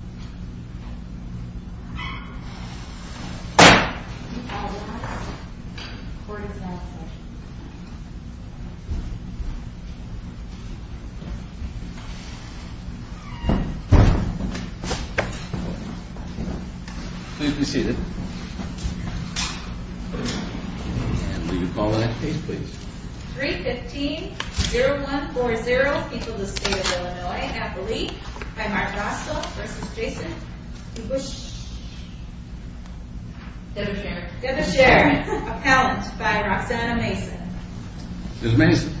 315-0140 People of the State of Illinois, Appalachia by Mark Roscoe v. DeBusschere Mr. DeBusschere, appellant by Roxanna Mason. Ms. Mason.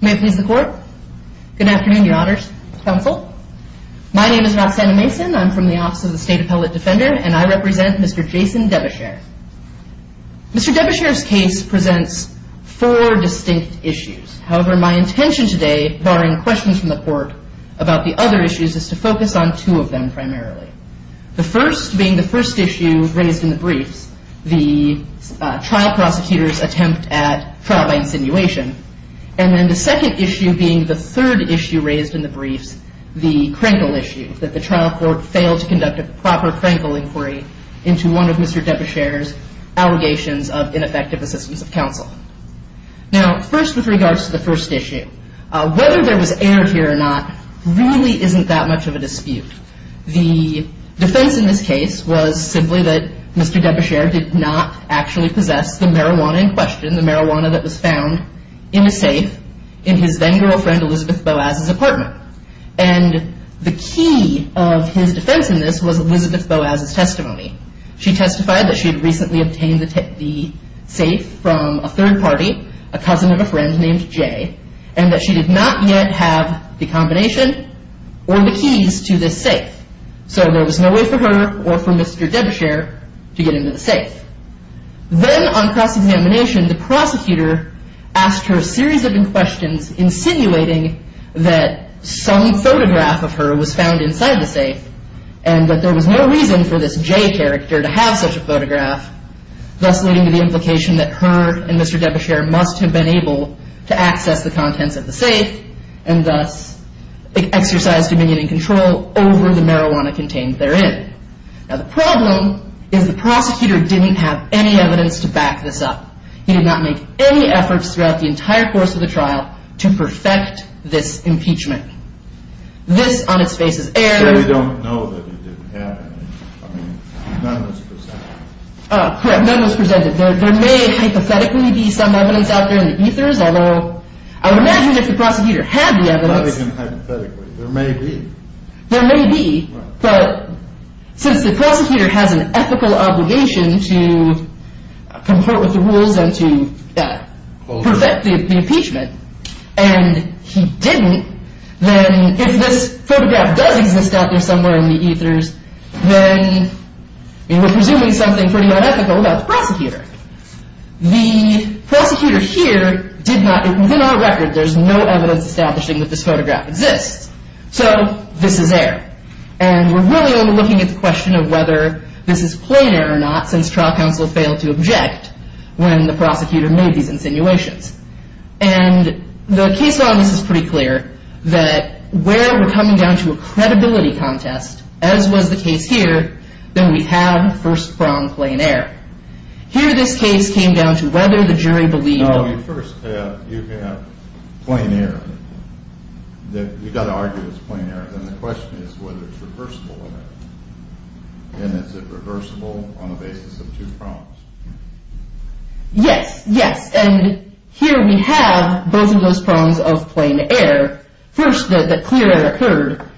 May it please the court. Good afternoon your honors counsel. My name is Roxanna Mason, I'm from the office of the State Appellate Defender and I represent Mr. Jason DeBusschere. Mr. DeBusschere's case presents four distinct issues. However, my intention today, barring questions from the court about the other issues, is to focus on two of them primarily. The first being the first issue raised in the briefs, the trial prosecutor's attempt at trial by insinuation. And then the second issue being the third issue raised in the briefs, the Krenkel issue, that the trial court failed to conduct a proper Krenkel inquiry into one of Mr. DeBusschere's allegations of ineffective assistance of counsel. Now, first with regards to the first issue, whether there was air here or not really isn't that much of a dispute. The defense in this case was simply that Mr. DeBusschere did not actually possess the marijuana in question, the marijuana that was found in a safe in his then girlfriend Elizabeth Boaz's apartment. And the key of his defense in this was Elizabeth Boaz's testimony. She testified that she had recently obtained the safe from a third party, a cousin of a friend named Jay, and that she did not yet have the combination or the keys to this safe. So there was no way for her or for Mr. DeBusschere to get into the safe. Then on cross-examination, the prosecutor asked her a series of questions insinuating that some photograph of her was found inside the safe and that there was no reason for this Jay character to have such a photograph, thus leading to the implication that her and Mr. DeBusschere must have been able to access the contents of the safe and thus exercise dominion and control over the marijuana contained therein. Now the problem is the prosecutor didn't have any evidence to back this up. He did not make any efforts throughout the entire course of the trial to perfect this impeachment. This on its face is air. There may hypothetically be some evidence out there in the ethers, although I would imagine if the prosecutor had the evidence, there may be. But since the prosecutor has an ethical obligation to comport with the rules and to perfect the impeachment, and he didn't, then if this photograph does exist out there somewhere in the ethers, then we're presuming something pretty unethical about the prosecutor. The prosecutor here did not, within our record, there's no evidence establishing that this photograph exists. So this is air. And we're really only looking at the question of whether this is plain air or not since trial counsel failed to object when the prosecutor made these insinuations. And the case on this is pretty clear that where we're coming down to a credibility contest, as was the case here, then we have first prong plain air. Here this case came down to whether the jury believed... First you have plain air. You've got to argue it's plain air. Then the question is whether it's reversible or not. And is it reversible on the basis of two prongs? Yes. Yes. And here we have both of those prongs of plain air. First, the clear air occurred.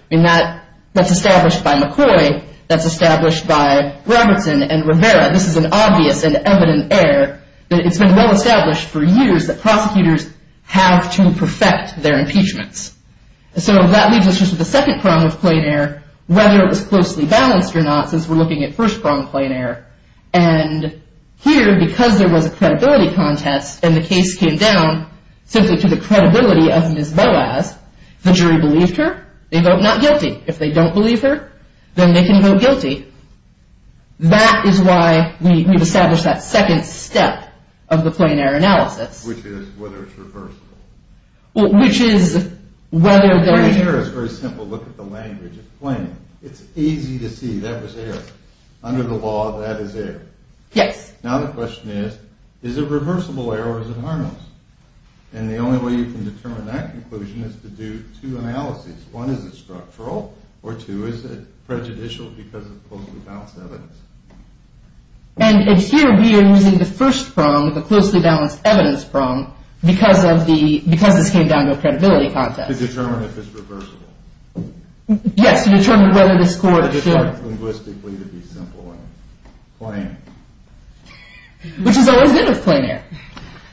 That's established by McCoy. That's established by Robertson and Rivera. This is an obvious and evident air. It's been well established for years that prosecutors have to perfect their impeachments. So that leads us to the second prong of plain air, whether it was closely balanced or not since we're looking at first prong plain air. And here, because there was a credibility contest and the case came down simply to the credibility of Ms. Boaz, the jury believed her. They vote not guilty. If they don't believe her, then they can vote guilty. That is why we've established that second step of the plain air analysis. Which is whether it's reversible. Which is whether... Plain air is very simple. Look at the language. It's plain. It's easy to see that was air. Under the law, that is air. Yes. Now the question is, is it reversible air or is it harmless? And the only way you can determine that conclusion is to do two analyses. One, is it structural? Or two, is it prejudicial because of closely balanced evidence? And here we are using the first prong, the closely balanced evidence prong, because this came down to a credibility contest. To determine if it's reversible. Yes, to determine whether this court should... It's linguistically to be simple and plain. Which is always good with plain air.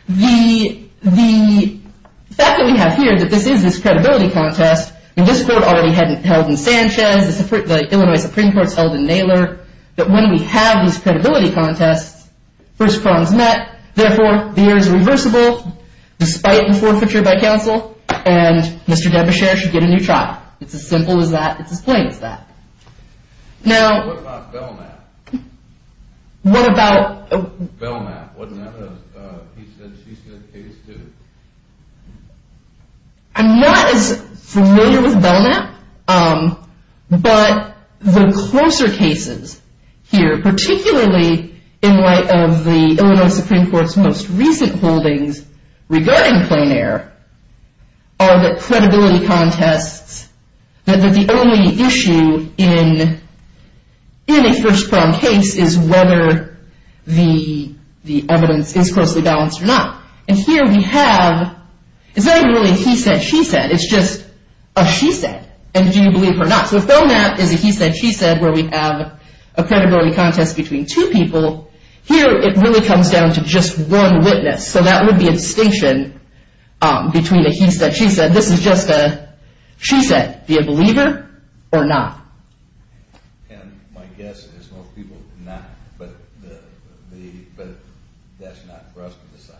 The fact that we have here that this is this credibility contest, and this court already held in Sanchez, the Illinois Supreme Court's held in Naylor, that when we have these credibility contests, first prong's met. Therefore, the air is reversible, despite the forfeiture by counsel, and Mr. Debeshear should get a new trial. It's as simple as that. It's as plain as that. Now... What about Belknap? What about... Belknap, wasn't that a, he said, she said case too? I'm not as familiar with Belknap, but the closer cases here, particularly in light of the Illinois Supreme Court's most recent holdings regarding plain air, are the credibility contests that the only issue in a first prong case is whether the evidence is closely balanced or not. And here we have... It's not really a he said, she said. It's just a she said. And do you believe her or not? So Belknap is a he said, she said where we have a credibility contest between two people. Here, it really comes down to just one witness. So that would be a distinction between a he said, she said. This is just a she said. Do you believe her or not? And my guess is most people do not. But that's not for us to decide.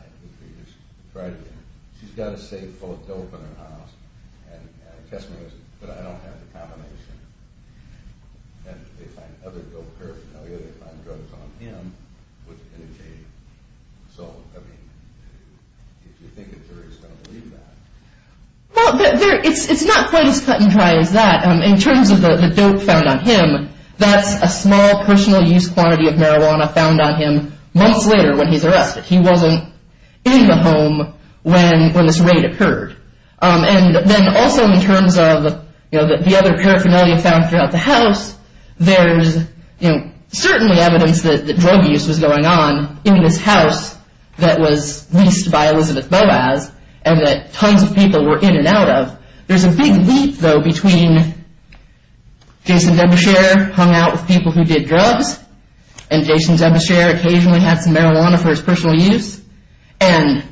She's got a safe full of dope in her house. And testimony is, but I don't have the combination. And they find other dope, her family, they find drugs on him, which can change. So, I mean, if you think a jury's going to believe that... Well, it's not quite as cut and dry as that. But in terms of the dope found on him, that's a small personal use quantity of marijuana found on him months later when he's arrested. He wasn't in the home when this raid occurred. And then also in terms of the other paraphernalia found throughout the house, there's certainly evidence that drug use was going on in this house that was leased by Elizabeth Boaz and that tons of people were in and out of. There's a big leap, though, between Jason Debeshare hung out with people who did drugs and Jason Debeshare occasionally had some marijuana for his personal use and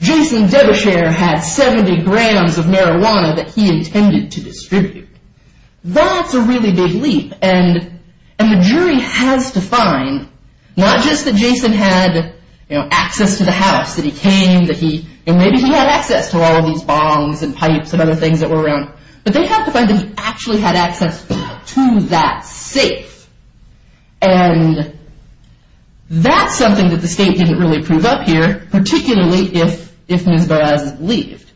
Jason Debeshare had 70 grams of marijuana that he intended to distribute. That's a really big leap. And the jury has to find not just that Jason had access to the house, that he came, and maybe he had access to all of these bongs and pipes and other things that were around, but they have to find that he actually had access to that safe. And that's something that the state didn't really prove up here, particularly if Ms. Boaz is believed.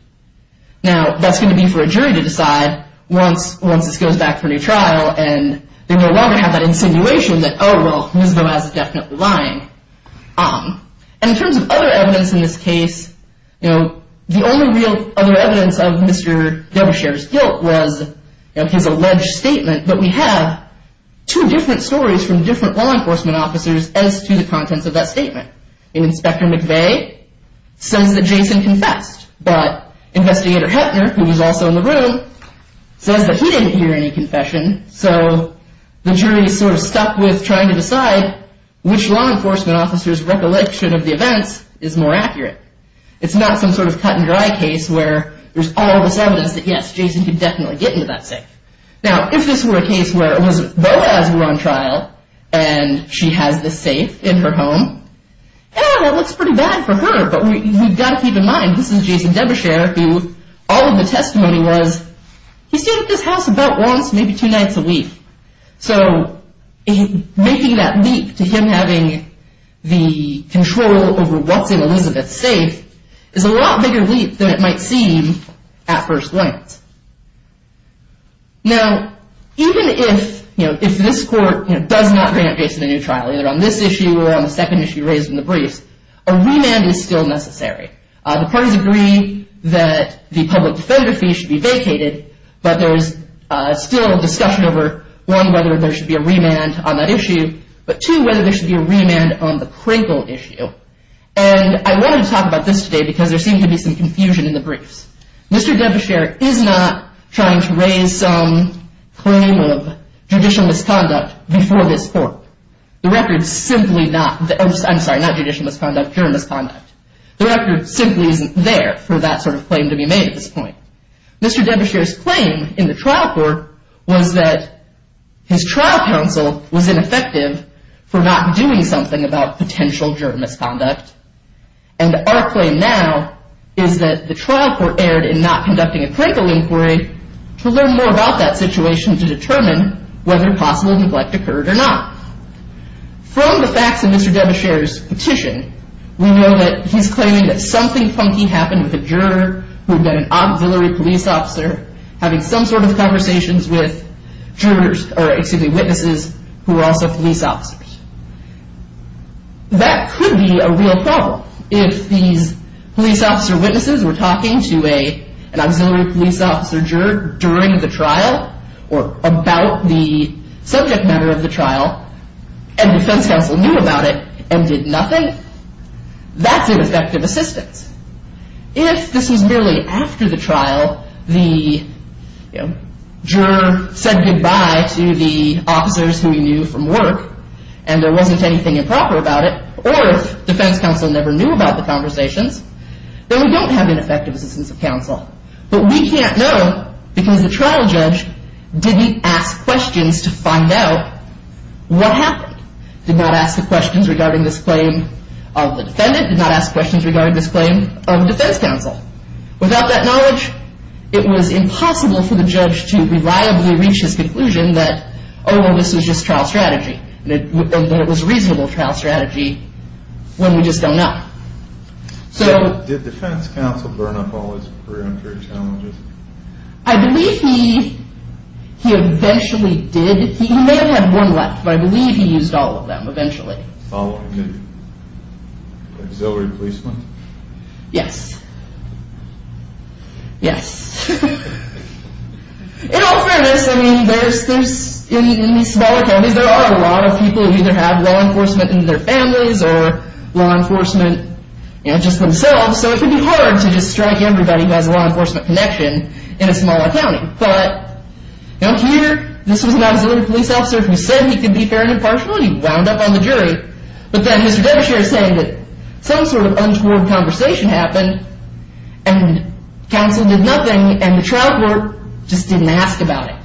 Now, that's going to be for a jury to decide once this goes back for a new trial and they no longer have that insinuation that, oh, well, Ms. Boaz is definitely lying. And in terms of other evidence in this case, the only real other evidence of Mr. Debeshare's guilt was his alleged statement, but we have two different stories from different law enforcement officers as to the contents of that statement. Inspector McVeigh says that Jason confessed, but Investigator Heppner, who was also in the room, says that he didn't hear any confession, so the jury is sort of stuck with trying to decide which law enforcement officer's recollection of the events is more accurate. It's not some sort of cut-and-dry case where there's all this evidence that, yes, Jason could definitely get into that safe. Now, if this were a case where it was Boaz who was on trial and she has the safe in her home, yeah, that looks pretty bad for her, but we've got to keep in mind, this is Jason Debeshare, who all of the testimony was, he stayed at this house about once, maybe two nights a week, so making that leap to him having the control over what's in Elizabeth's safe is a lot bigger leap than it might seem at first glance. Now, even if this court does not bring up Jason in a new trial, either on this issue or on the second issue raised in the briefs, a remand is still necessary. The parties agree that the public defender fee should be vacated, but there's still discussion over, one, whether there should be a remand on that issue, but, two, whether there should be a remand on the Crinkle issue. And I wanted to talk about this today because there seemed to be some confusion in the briefs. Mr. Debeshare is not trying to raise some claim of judicial misconduct before this court. The record's simply not, I'm sorry, not judicial misconduct, pure misconduct. The record simply isn't there for that sort of claim to be made at this point. Mr. Debeshare's claim in the trial court was that his trial counsel was ineffective for not doing something about potential juror misconduct, and our claim now is that the trial court erred in not conducting a Crinkle inquiry to learn more about that situation to determine whether possible neglect occurred or not. From the facts in Mr. Debeshare's petition, we know that he's claiming that something funky happened with a juror who had met an auxiliary police officer having some sort of conversations with jurors, or excuse me, witnesses who were also police officers. That could be a real problem. If these police officer witnesses were talking to an auxiliary police officer juror during the trial or about the subject matter of the trial, and defense counsel knew about it and did nothing, that's ineffective assistance. If this was merely after the trial, the juror said goodbye to the officers who he knew from work and there wasn't anything improper about it, or if defense counsel never knew about the conversations, then we don't have ineffective assistance of counsel. But we can't know because the trial judge didn't ask questions to find out what happened, did not ask the questions regarding this claim of the defendant, did not ask questions regarding this claim of the defense counsel. Without that knowledge, it was impossible for the judge to reliably reach his conclusion that, oh, well, this was just trial strategy, and that it was reasonable trial strategy when we just don't know. So did defense counsel burn up all his preemptory challenges? I believe he eventually did. He may have one left, but I believe he used all of them eventually. Following the auxiliary policeman? Yes. Yes. In all fairness, I mean, there's, in these smaller counties, there are a lot of people who either have law enforcement in their families or law enforcement just themselves, so it can be hard to just strike everybody who has a law enforcement connection in a smaller county. But here, this was an auxiliary police officer who said he could be fair and impartial, and he wound up on the jury. But then Mr. Demacher is saying that some sort of untoward conversation happened, and counsel did nothing, and the trial court just didn't ask about it.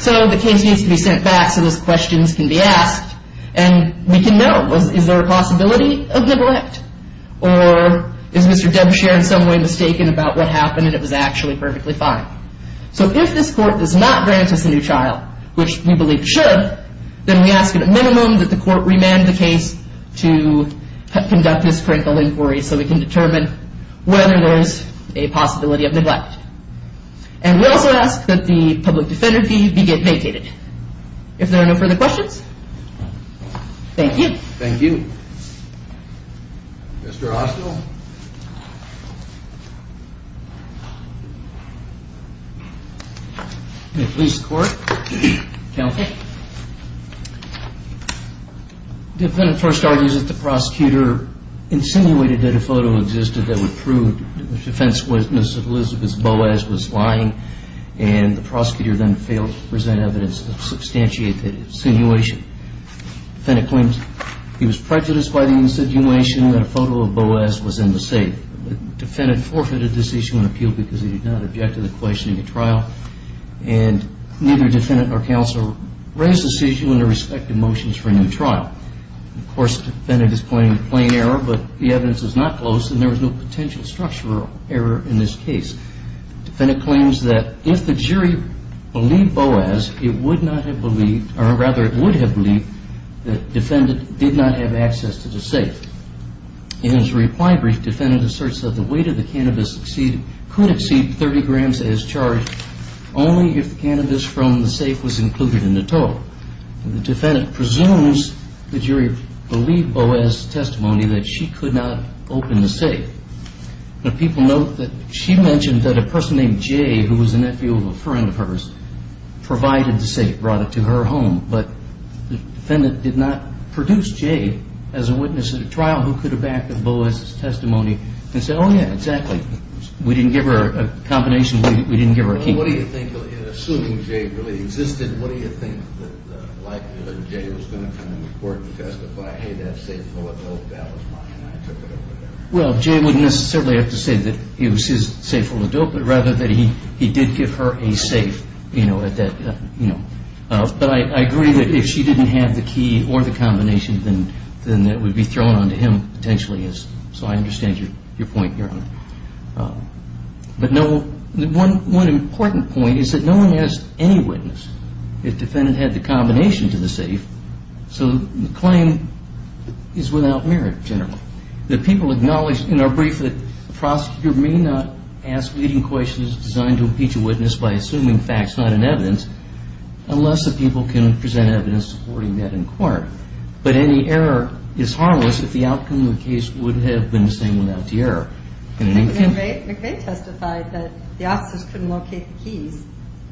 So the case needs to be sent back so those questions can be asked, and we can know, is there a possibility of neglect? Or is Mr. Demacher in some way mistaken about what happened and it was actually perfectly fine? So if this court does not grant us a new trial, which we believe should, then we ask at a minimum that the court remand the case to conduct this critical inquiry so we can determine whether there is a possibility of neglect. And we also ask that the public defender fee be vacated. If there are no further questions, thank you. Thank you. Mr. Ostell? The police court, counsel. The defendant first argues that the prosecutor insinuated that a photo existed that would prove the defense witness, Elizabeth Boas, was lying, and the prosecutor then failed to present evidence to substantiate the insinuation. The defendant claims he was prejudiced by the insinuation that a photo of Boas was in the safe. The defendant forfeited the decision on appeal because he did not object to the question of the trial, and neither defendant nor counsel raised the decision under respective motions for a new trial. Of course, the defendant is pointing to plain error, but the evidence is not close, and there is no potential structural error in this case. The defendant claims that if the jury believed Boas, it would not have believed, or rather it would have believed that the defendant did not have access to the safe. In his reply brief, the defendant asserts that the weight of the cannabis could exceed 30 grams as charged only if the cannabis from the safe was included in the total. The defendant presumes the jury believed Boas' testimony that she could not open the safe. People note that she mentioned that a person named Jay, who was a nephew of a friend of hers, provided the safe, brought it to her home, but the defendant did not produce Jay as a witness at a trial who could have backed up Boas' testimony and said, oh, yeah, exactly. We didn't give her a combination. We didn't give her a key. Assuming Jay really existed, what do you think the likelihood that Jay was going to come to the court and testify, hey, that safe, that was mine, I took it over there? Well, Jay wouldn't necessarily have to say that it was his safe that opened it, rather that he did give her a safe, you know, at that, you know. But I agree that if she didn't have the key or the combination, then it would be thrown onto him, potentially. So I understand your point, Your Honor. But no, one important point is that no one has any witness. The defendant had the combination to the safe, so the claim is without merit, generally. The people acknowledged in our brief that the prosecutor may not ask leading questions designed to impeach a witness by assuming facts, not in evidence, unless the people can present evidence supporting that in court. But any error is harmless if the outcome of the case would have been the same without the error. I think McVeigh testified that the officers couldn't locate the keys.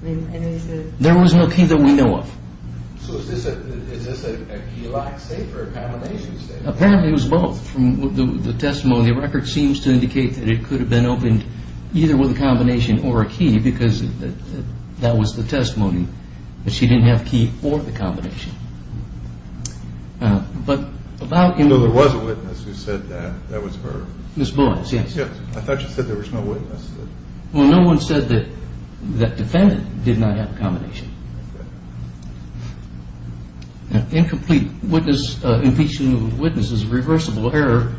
There was no key that we know of. So is this a key-lock safe or a combination safe? Apparently it was both from the testimony. The record seems to indicate that it could have been opened either with a combination or a key because that was the testimony, that she didn't have a key or the combination. But about – No, there was a witness who said that. That was her. Ms. Boyce, yes. I thought she said there was no witness. Well, no one said that that defendant did not have a combination. Incomplete impeachment of a witness is a reversible error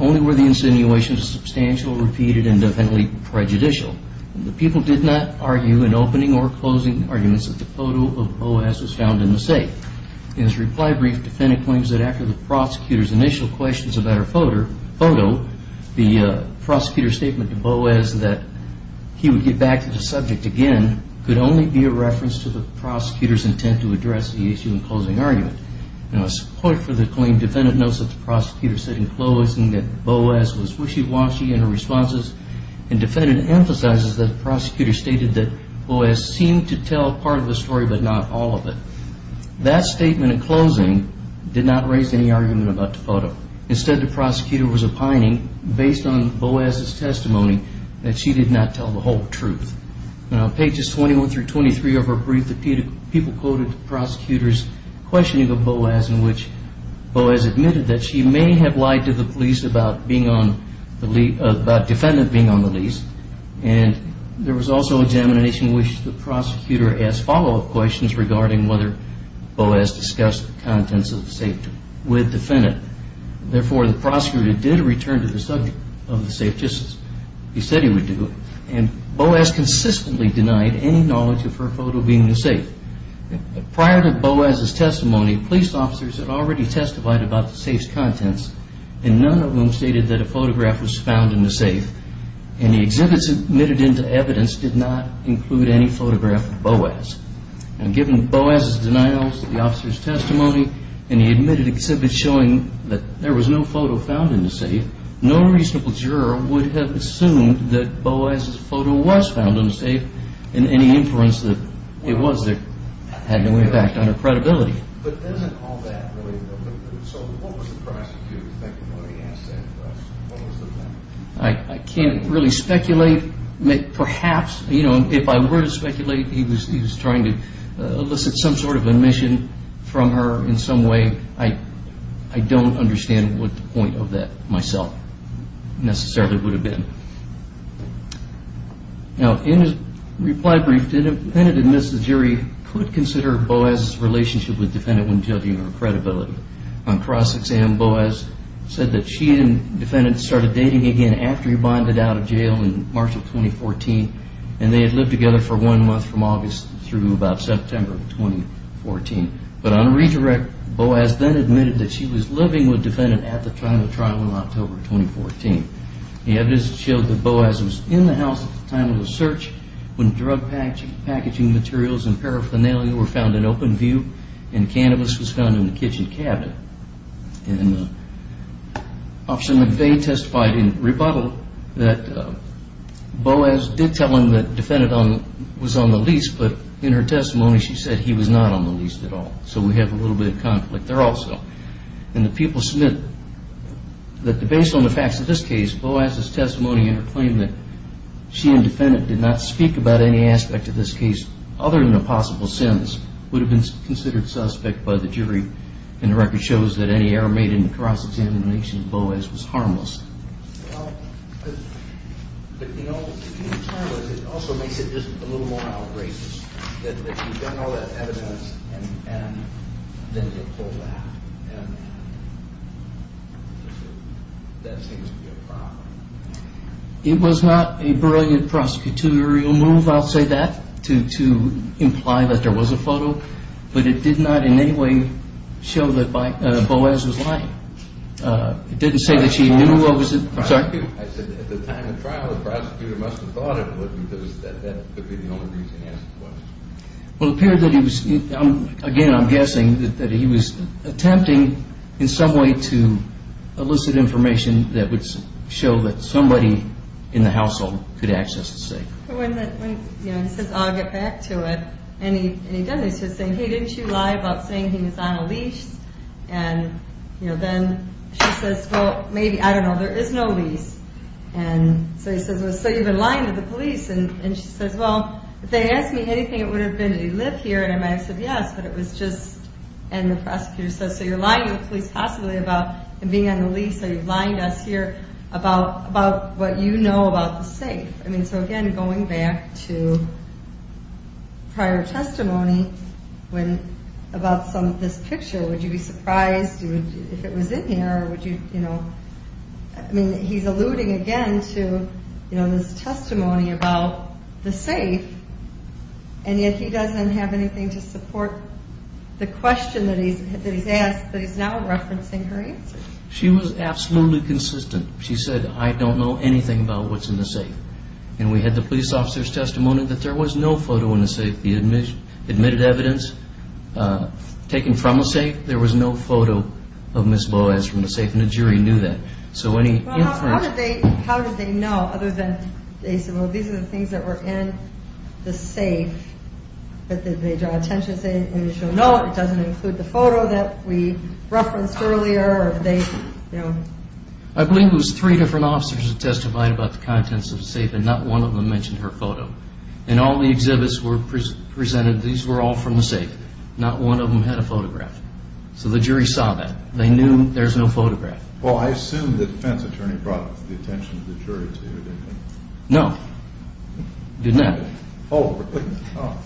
only where the insinuation is substantial, repeated, and definitely prejudicial. The people did not argue in opening or closing arguments that the photo of Boas was found in the safe. In his reply brief, the defendant claims that after the prosecutor's initial questions about her photo, the prosecutor's statement to Boas that he would get back to the subject again could only be a reference to the prosecutor's intent to address the issue in closing argument. Now, a support for the claim, the defendant notes that the prosecutor said in closing that Boas was wishy-washy in her responses, and the defendant emphasizes that the prosecutor stated that Boas seemed to tell part of the story but not all of it. That statement in closing did not raise any argument about the photo. Instead, the prosecutor was opining, based on Boas' testimony, that she did not tell the whole truth. Now, pages 21 through 23 of her brief, the people quoted the prosecutor's questioning of Boas in which Boas admitted that she may have lied to the police about the defendant being on the lease, and there was also examination in which the prosecutor asked follow-up questions regarding whether Boas discussed the contents of the safe with the defendant. Therefore, the prosecutor did return to the subject of the safe just as he said he would do, and Boas consistently denied any knowledge of her photo being in the safe. Prior to Boas' testimony, police officers had already testified about the safe's contents, and none of them stated that a photograph was found in the safe, and the exhibits admitted into evidence did not include any photograph of Boas. Now, given Boas' denial of the officer's testimony and the admitted exhibits showing that there was no photo found in the safe, no reasonable juror would have assumed that Boas' photo was found in the safe and any inference that it was there had no impact on her credibility. But isn't all that really a little bit, so what was the prosecutor thinking when he asked that question? What was the plan? I can't really speculate. Perhaps, you know, if I were to speculate, he was trying to elicit some sort of admission from her in some way. I don't understand what the point of that myself necessarily would have been. Now, in his reply brief, the defendant admits the jury could consider Boas' relationship with the defendant when judging her credibility. On cross-exam, Boas said that she and the defendant started dating again after he bonded out of jail in March of 2014, and they had lived together for one month from August through about September of 2014. But on a redirect, Boas then admitted that she was living with the defendant at the time of the trial in October of 2014. The evidence showed that Boas was in the house at the time of the search when drug packaging materials and paraphernalia were found in open view and cannabis was found in the kitchen cabinet. And Officer McVeigh testified in rebuttal that Boas did tell him that the defendant was on the lease, but in her testimony she said he was not on the lease at all. So we have a little bit of conflict there also. And the people submit that based on the facts of this case, Boas' testimony and her claim that she and the defendant did not speak about any aspect of this case other than the possible sins would have been considered suspect by the jury, and the record shows that any error made in the cross-examination of Boas was harmless. Well, you know, if you're harmless, it also makes it just a little more outrageous that you've done all that evidence and then you pull back. And that seems to be a problem. It was not a brilliant prosecutorial move, I'll say that, to imply that there was a photo, but it did not in any way show that Boas was lying. It didn't say that she knew, I'm sorry? I said at the time of trial the prosecutor must have thought it would because that could be the only reason he asked the question. Well, it appeared that he was, again I'm guessing, that he was attempting in some way to elicit information that would show that somebody in the household could access the safe. When he says, I'll get back to it, and he does, he's just saying, hey, didn't you lie about saying he was on a lease? And then she says, well, maybe, I don't know, there is no lease. And so he says, well, so you've been lying to the police. And she says, well, if they asked me anything, it would have been, did he live here, and I might have said yes, but it was just, and the prosecutor says, so you're lying to the police possibly about him being on the lease or you've lied us here about what you know about the safe. I mean, so again, going back to prior testimony, about some of this picture, would you be surprised if it was in here? I mean, he's alluding again to this testimony about the safe, and yet he doesn't have anything to support the question that he's asked, but he's now referencing her answer. She was absolutely consistent. She said, I don't know anything about what's in the safe. And we had the police officer's testimony that there was no photo in the safe. He admitted evidence taken from the safe. There was no photo of Ms. Boaz from the safe, and the jury knew that. So any inference? Well, how did they know other than they said, well, these are the things that were in the safe, but they draw attention and say, no, it doesn't include the photo that we referenced earlier, or they, you know. I believe it was three different officers that testified about the contents of the safe, and not one of them mentioned her photo. And all the exhibits were presented, these were all from the safe. Not one of them had a photograph. So the jury saw that. They knew there's no photograph. Well, I assume the defense attorney brought the attention of the jury to you, didn't he? No. He didn't. Oh, really? Oh.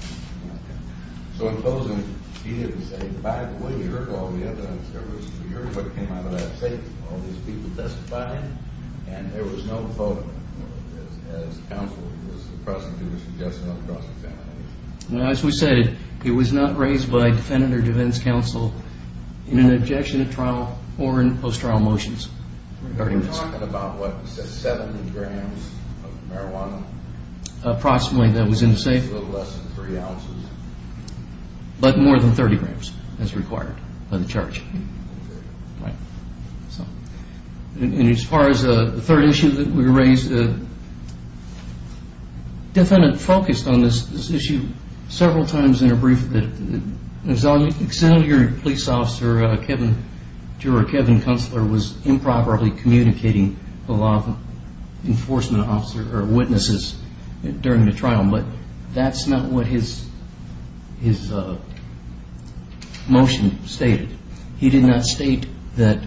So in closing, he didn't say, by the way, you heard all the evidence. You heard what came out of that safe, all these people testifying, and there was no photo as counsel was present who was suggesting a cross-examination. As we said, it was not raised by defendant or defense counsel in an objection to trial or in post-trial motions. We're talking about, what, 70 grams of marijuana? Approximately, that was in the safe. A little less than three ounces. But more than 30 grams, as required by the charge. Right. And as far as the third issue that we raised, the defendant focused on this issue several times in a brief. Excellent jury police officer Kevin Kunstler was improperly communicating the law enforcement officers or witnesses during the trial, but that's not what his motion stated. He did not state that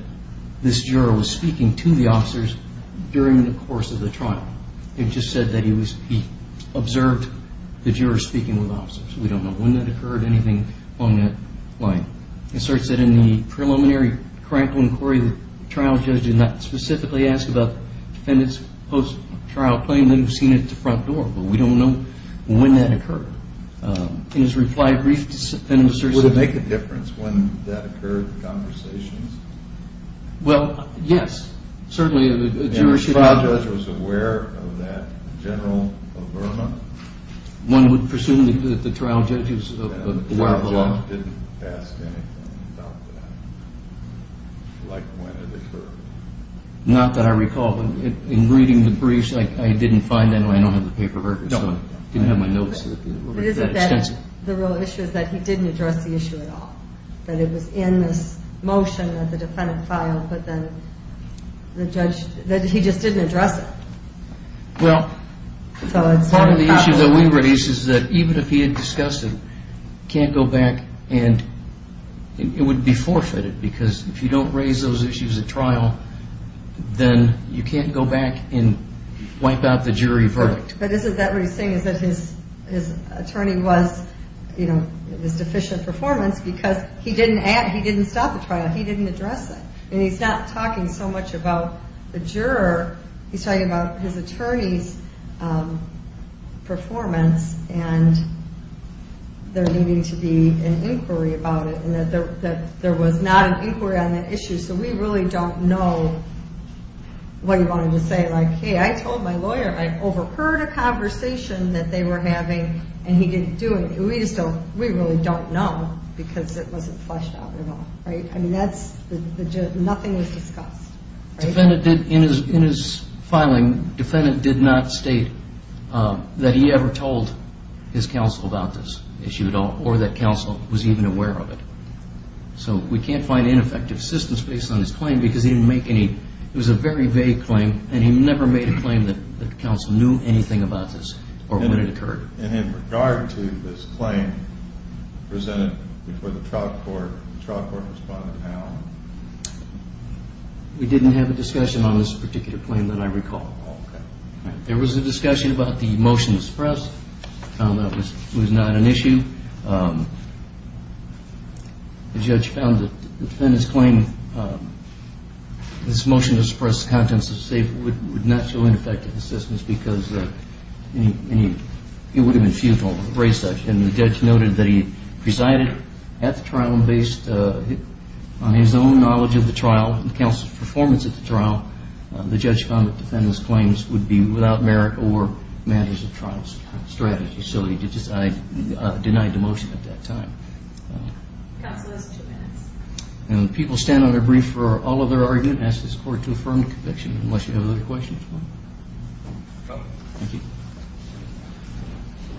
this juror was speaking to the officers during the course of the trial. It just said that he observed the jurors speaking with officers. We don't know when that occurred or anything along that line. It asserts that in the preliminary, correct inquiry, the trial judge did not specifically ask about the defendant's post-trial claim. They've seen it at the front door, but we don't know when that occurred. In his reply brief, this defendant asserts that Does it make a difference when that occurred in conversations? Well, yes. And the trial judge was aware of that, General Oberma? One would presume that the trial judge was aware of the law. The trial judge didn't ask anything about that, like when it occurred. Not that I recall. In reading the briefs, I didn't find any. I don't have the paper records, so I didn't have my notes with me. The real issue is that he didn't address the issue at all, that it was in this motion that the defendant filed, but that he just didn't address it. Well, part of the issue that we raise is that even if he had discussed it, he can't go back and it would be forfeited because if you don't raise those issues at trial, then you can't go back and wipe out the jury verdict. What he's saying is that his attorney was, you know, it was deficient performance because he didn't stop the trial. He didn't address it. And he's not talking so much about the juror. He's talking about his attorney's performance and there needing to be an inquiry about it and that there was not an inquiry on that issue, so we really don't know what he wanted to say. Like, hey, I told my lawyer I overheard a conversation that they were having and he didn't do it. We really don't know because it wasn't fleshed out at all. I mean, nothing was discussed. In his filing, the defendant did not state that he ever told his counsel about this issue at all or that counsel was even aware of it. So we can't find ineffective assistance based on his claim because he didn't make any. It was a very vague claim and he never made a claim that counsel knew anything about this or when it occurred. And in regard to this claim presented before the trial court, the trial court responded how? We didn't have a discussion on this particular claim that I recall. There was a discussion about the motion to suppress. That was not an issue. The judge found that the defendant's claim, this motion to suppress the contents of the statement would not show ineffective assistance because it would have been futile to raise such. And the judge noted that he presided at the trial and based on his own knowledge of the trial and the counsel's performance at the trial, the judge found that the defendant's claims would be without merit or matters of trial strategy. So he denied the motion at that time. Counsel has two minutes. And people stand on their brief for all of their argument. Ask this court to affirm the conviction unless you have other questions. Thank you.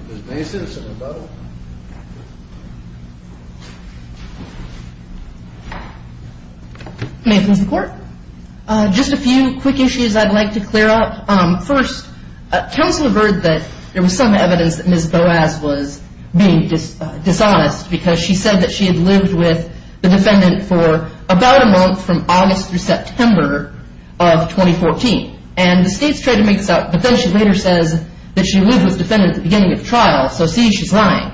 Ms. Mason, is there something about it? May I please report? Just a few quick issues I'd like to clear up. First, counsel heard that there was some evidence that Ms. Boaz was being dishonest because she said that she had lived with the defendant for about a month from August through September of 2014. And the state's trade-in makes up, but then she later says that she lived with the defendant at the beginning of the trial, so see, she's lying.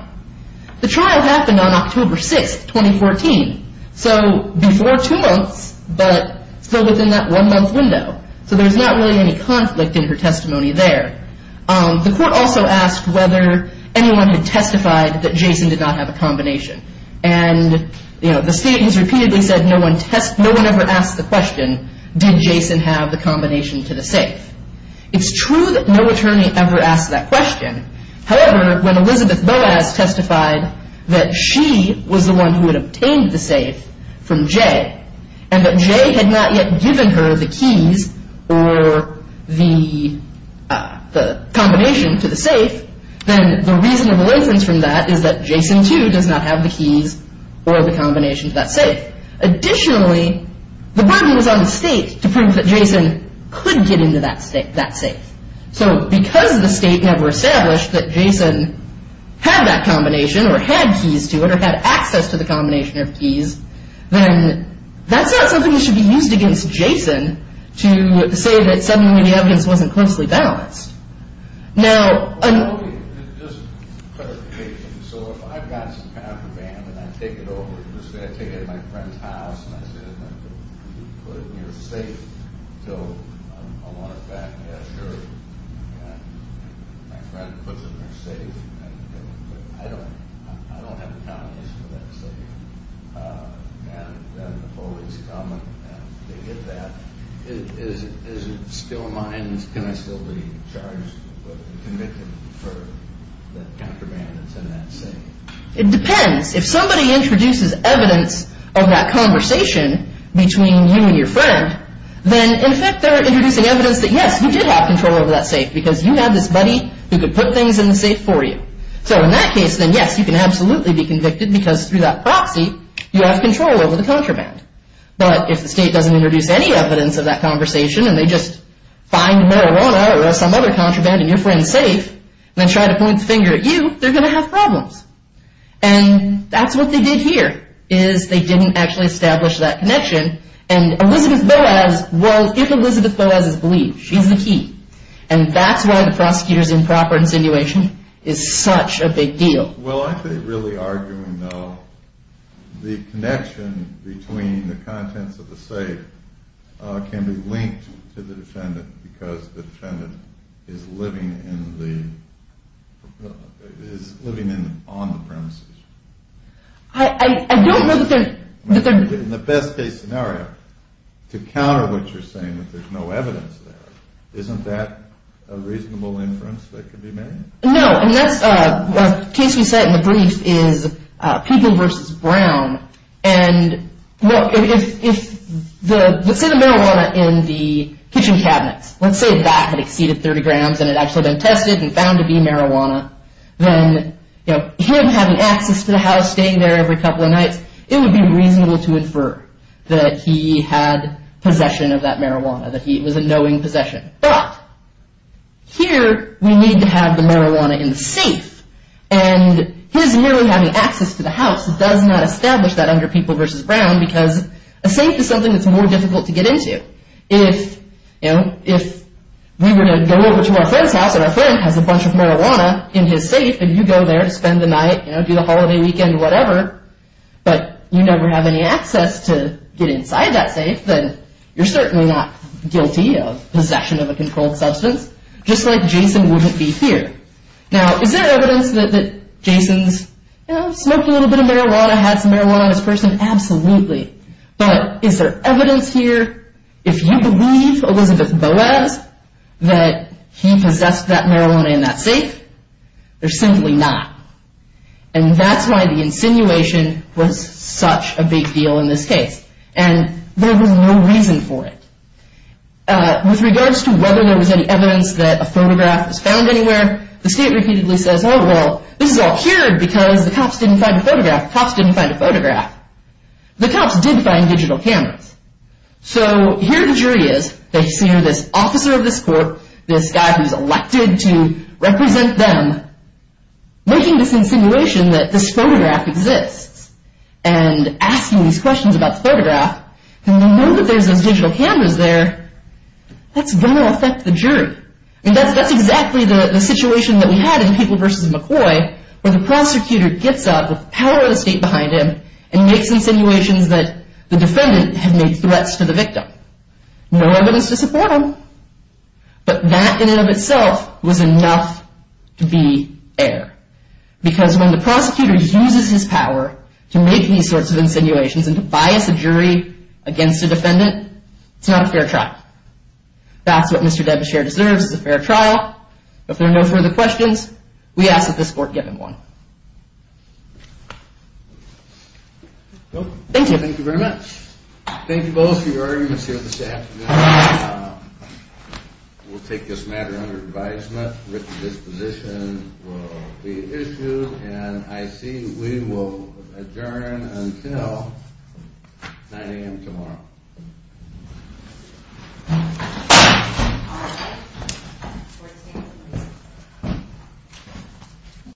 The trial happened on October 6th, 2014. So before two months, but still within that one-month window. So there's not really any conflict in her testimony there. The court also asked whether anyone had testified that Jason did not have a combination. And, you know, the state has repeatedly said no one ever asked the question, did Jason have the combination to the safe? It's true that no attorney ever asked that question. However, when Elizabeth Boaz testified that she was the one who had obtained the safe from Jay and that Jay had not yet given her the keys or the combination to the safe, then the reasonable inference from that is that Jason, too, does not have the keys or the combination to that safe. Additionally, the burden was on the state to prove that Jason could get into that safe. So because the state never established that Jason had that combination or had keys to it or had access to the combination of keys, then that's not something that should be used against Jason to say that suddenly the evidence wasn't closely balanced. Now... Okay, just a clarification. So if I've got some kind of a ban and I take it over, let's say I take it to my friend's house and I say, put it in your safe until I want it back, yeah, sure. My friend puts it in their safe and I don't have the combination for that safe. And then the police come and they get that. Is it still mine? Can I still be charged or convicted for the contraband that's in that safe? It depends. If somebody introduces evidence of that conversation between you and your friend, then in effect they're introducing evidence that yes, you did have control over that safe because you had this buddy who could put things in the safe for you. So in that case, then yes, you can absolutely be convicted because through that proxy you have control over the contraband. But if the state doesn't introduce any evidence of that conversation and they just find marijuana or some other contraband in your friend's safe and then try to point the finger at you, they're going to have problems. And that's what they did here is they didn't actually establish that connection and Elizabeth Boas, well, if Elizabeth Boas is believed, she's the key. And that's why the prosecutor's improper insinuation is such a big deal. Well, I think really arguing, though, the connection between the contents of the safe can be linked to the defendant because the defendant is living on the premises. I don't know that they're... In the best case scenario, to counter what you're saying, that there's no evidence there, isn't that a reasonable inference that could be made? No, and that's... The case we set in the brief is People v. Brown. And if the... Let's say the marijuana in the kitchen cabinets, let's say that had exceeded 30 grams and it had actually been tested and found to be marijuana, then him having access to the house, staying there every couple of nights, it would be reasonable to infer that he had possession of that marijuana, that it was a knowing possession. But here we need to have the marijuana in the safe and his merely having access to the house does not establish that under People v. Brown because a safe is something that's more difficult to get into. If we were to go over to our friend's house and our friend has a bunch of marijuana in his safe and you go there to spend the night, do the holiday weekend, whatever, but you never have any access to get inside that safe, then you're certainly not guilty of possession of a controlled substance, just like Jason wouldn't be here. Now, is there evidence that Jason's smoked a little bit of marijuana, had some marijuana in his person? Absolutely. But is there evidence here? If you believe Elizabeth Boas that he possessed that marijuana in that safe, there's simply not. And that's why the insinuation was such a big deal in this case. And there was no reason for it. With regards to whether there was any evidence that a photograph was found anywhere, the state repeatedly says, oh, well, this is all here because the cops didn't find a photograph. Cops didn't find a photograph. The cops did find digital cameras. So here the jury is. They see this officer of this court, this guy who's elected to represent them, making this insinuation that this photograph exists and asking these questions about the photograph. And they know that there's those digital cameras there. That's going to affect the jury. That's exactly the situation that we had in Papal v. McCoy, where the prosecutor gets up with the power of the state behind him and makes insinuations that the defendant had made threats to the victim. No evidence to support him. But that in and of itself was enough to be air. Because when the prosecutor uses his power to make these sorts of insinuations and to bias a jury against a defendant, it's not a fair trial. That's what Mr. Devonshire deserves is a fair trial. If there are no further questions, we ask that this court give him one. Thank you. Thank you very much. Thank you both for your arguments here this afternoon. We'll take this matter under advisement. Richard, this position will be issued. And I see we will adjourn until 9 a.m. tomorrow. Thank you.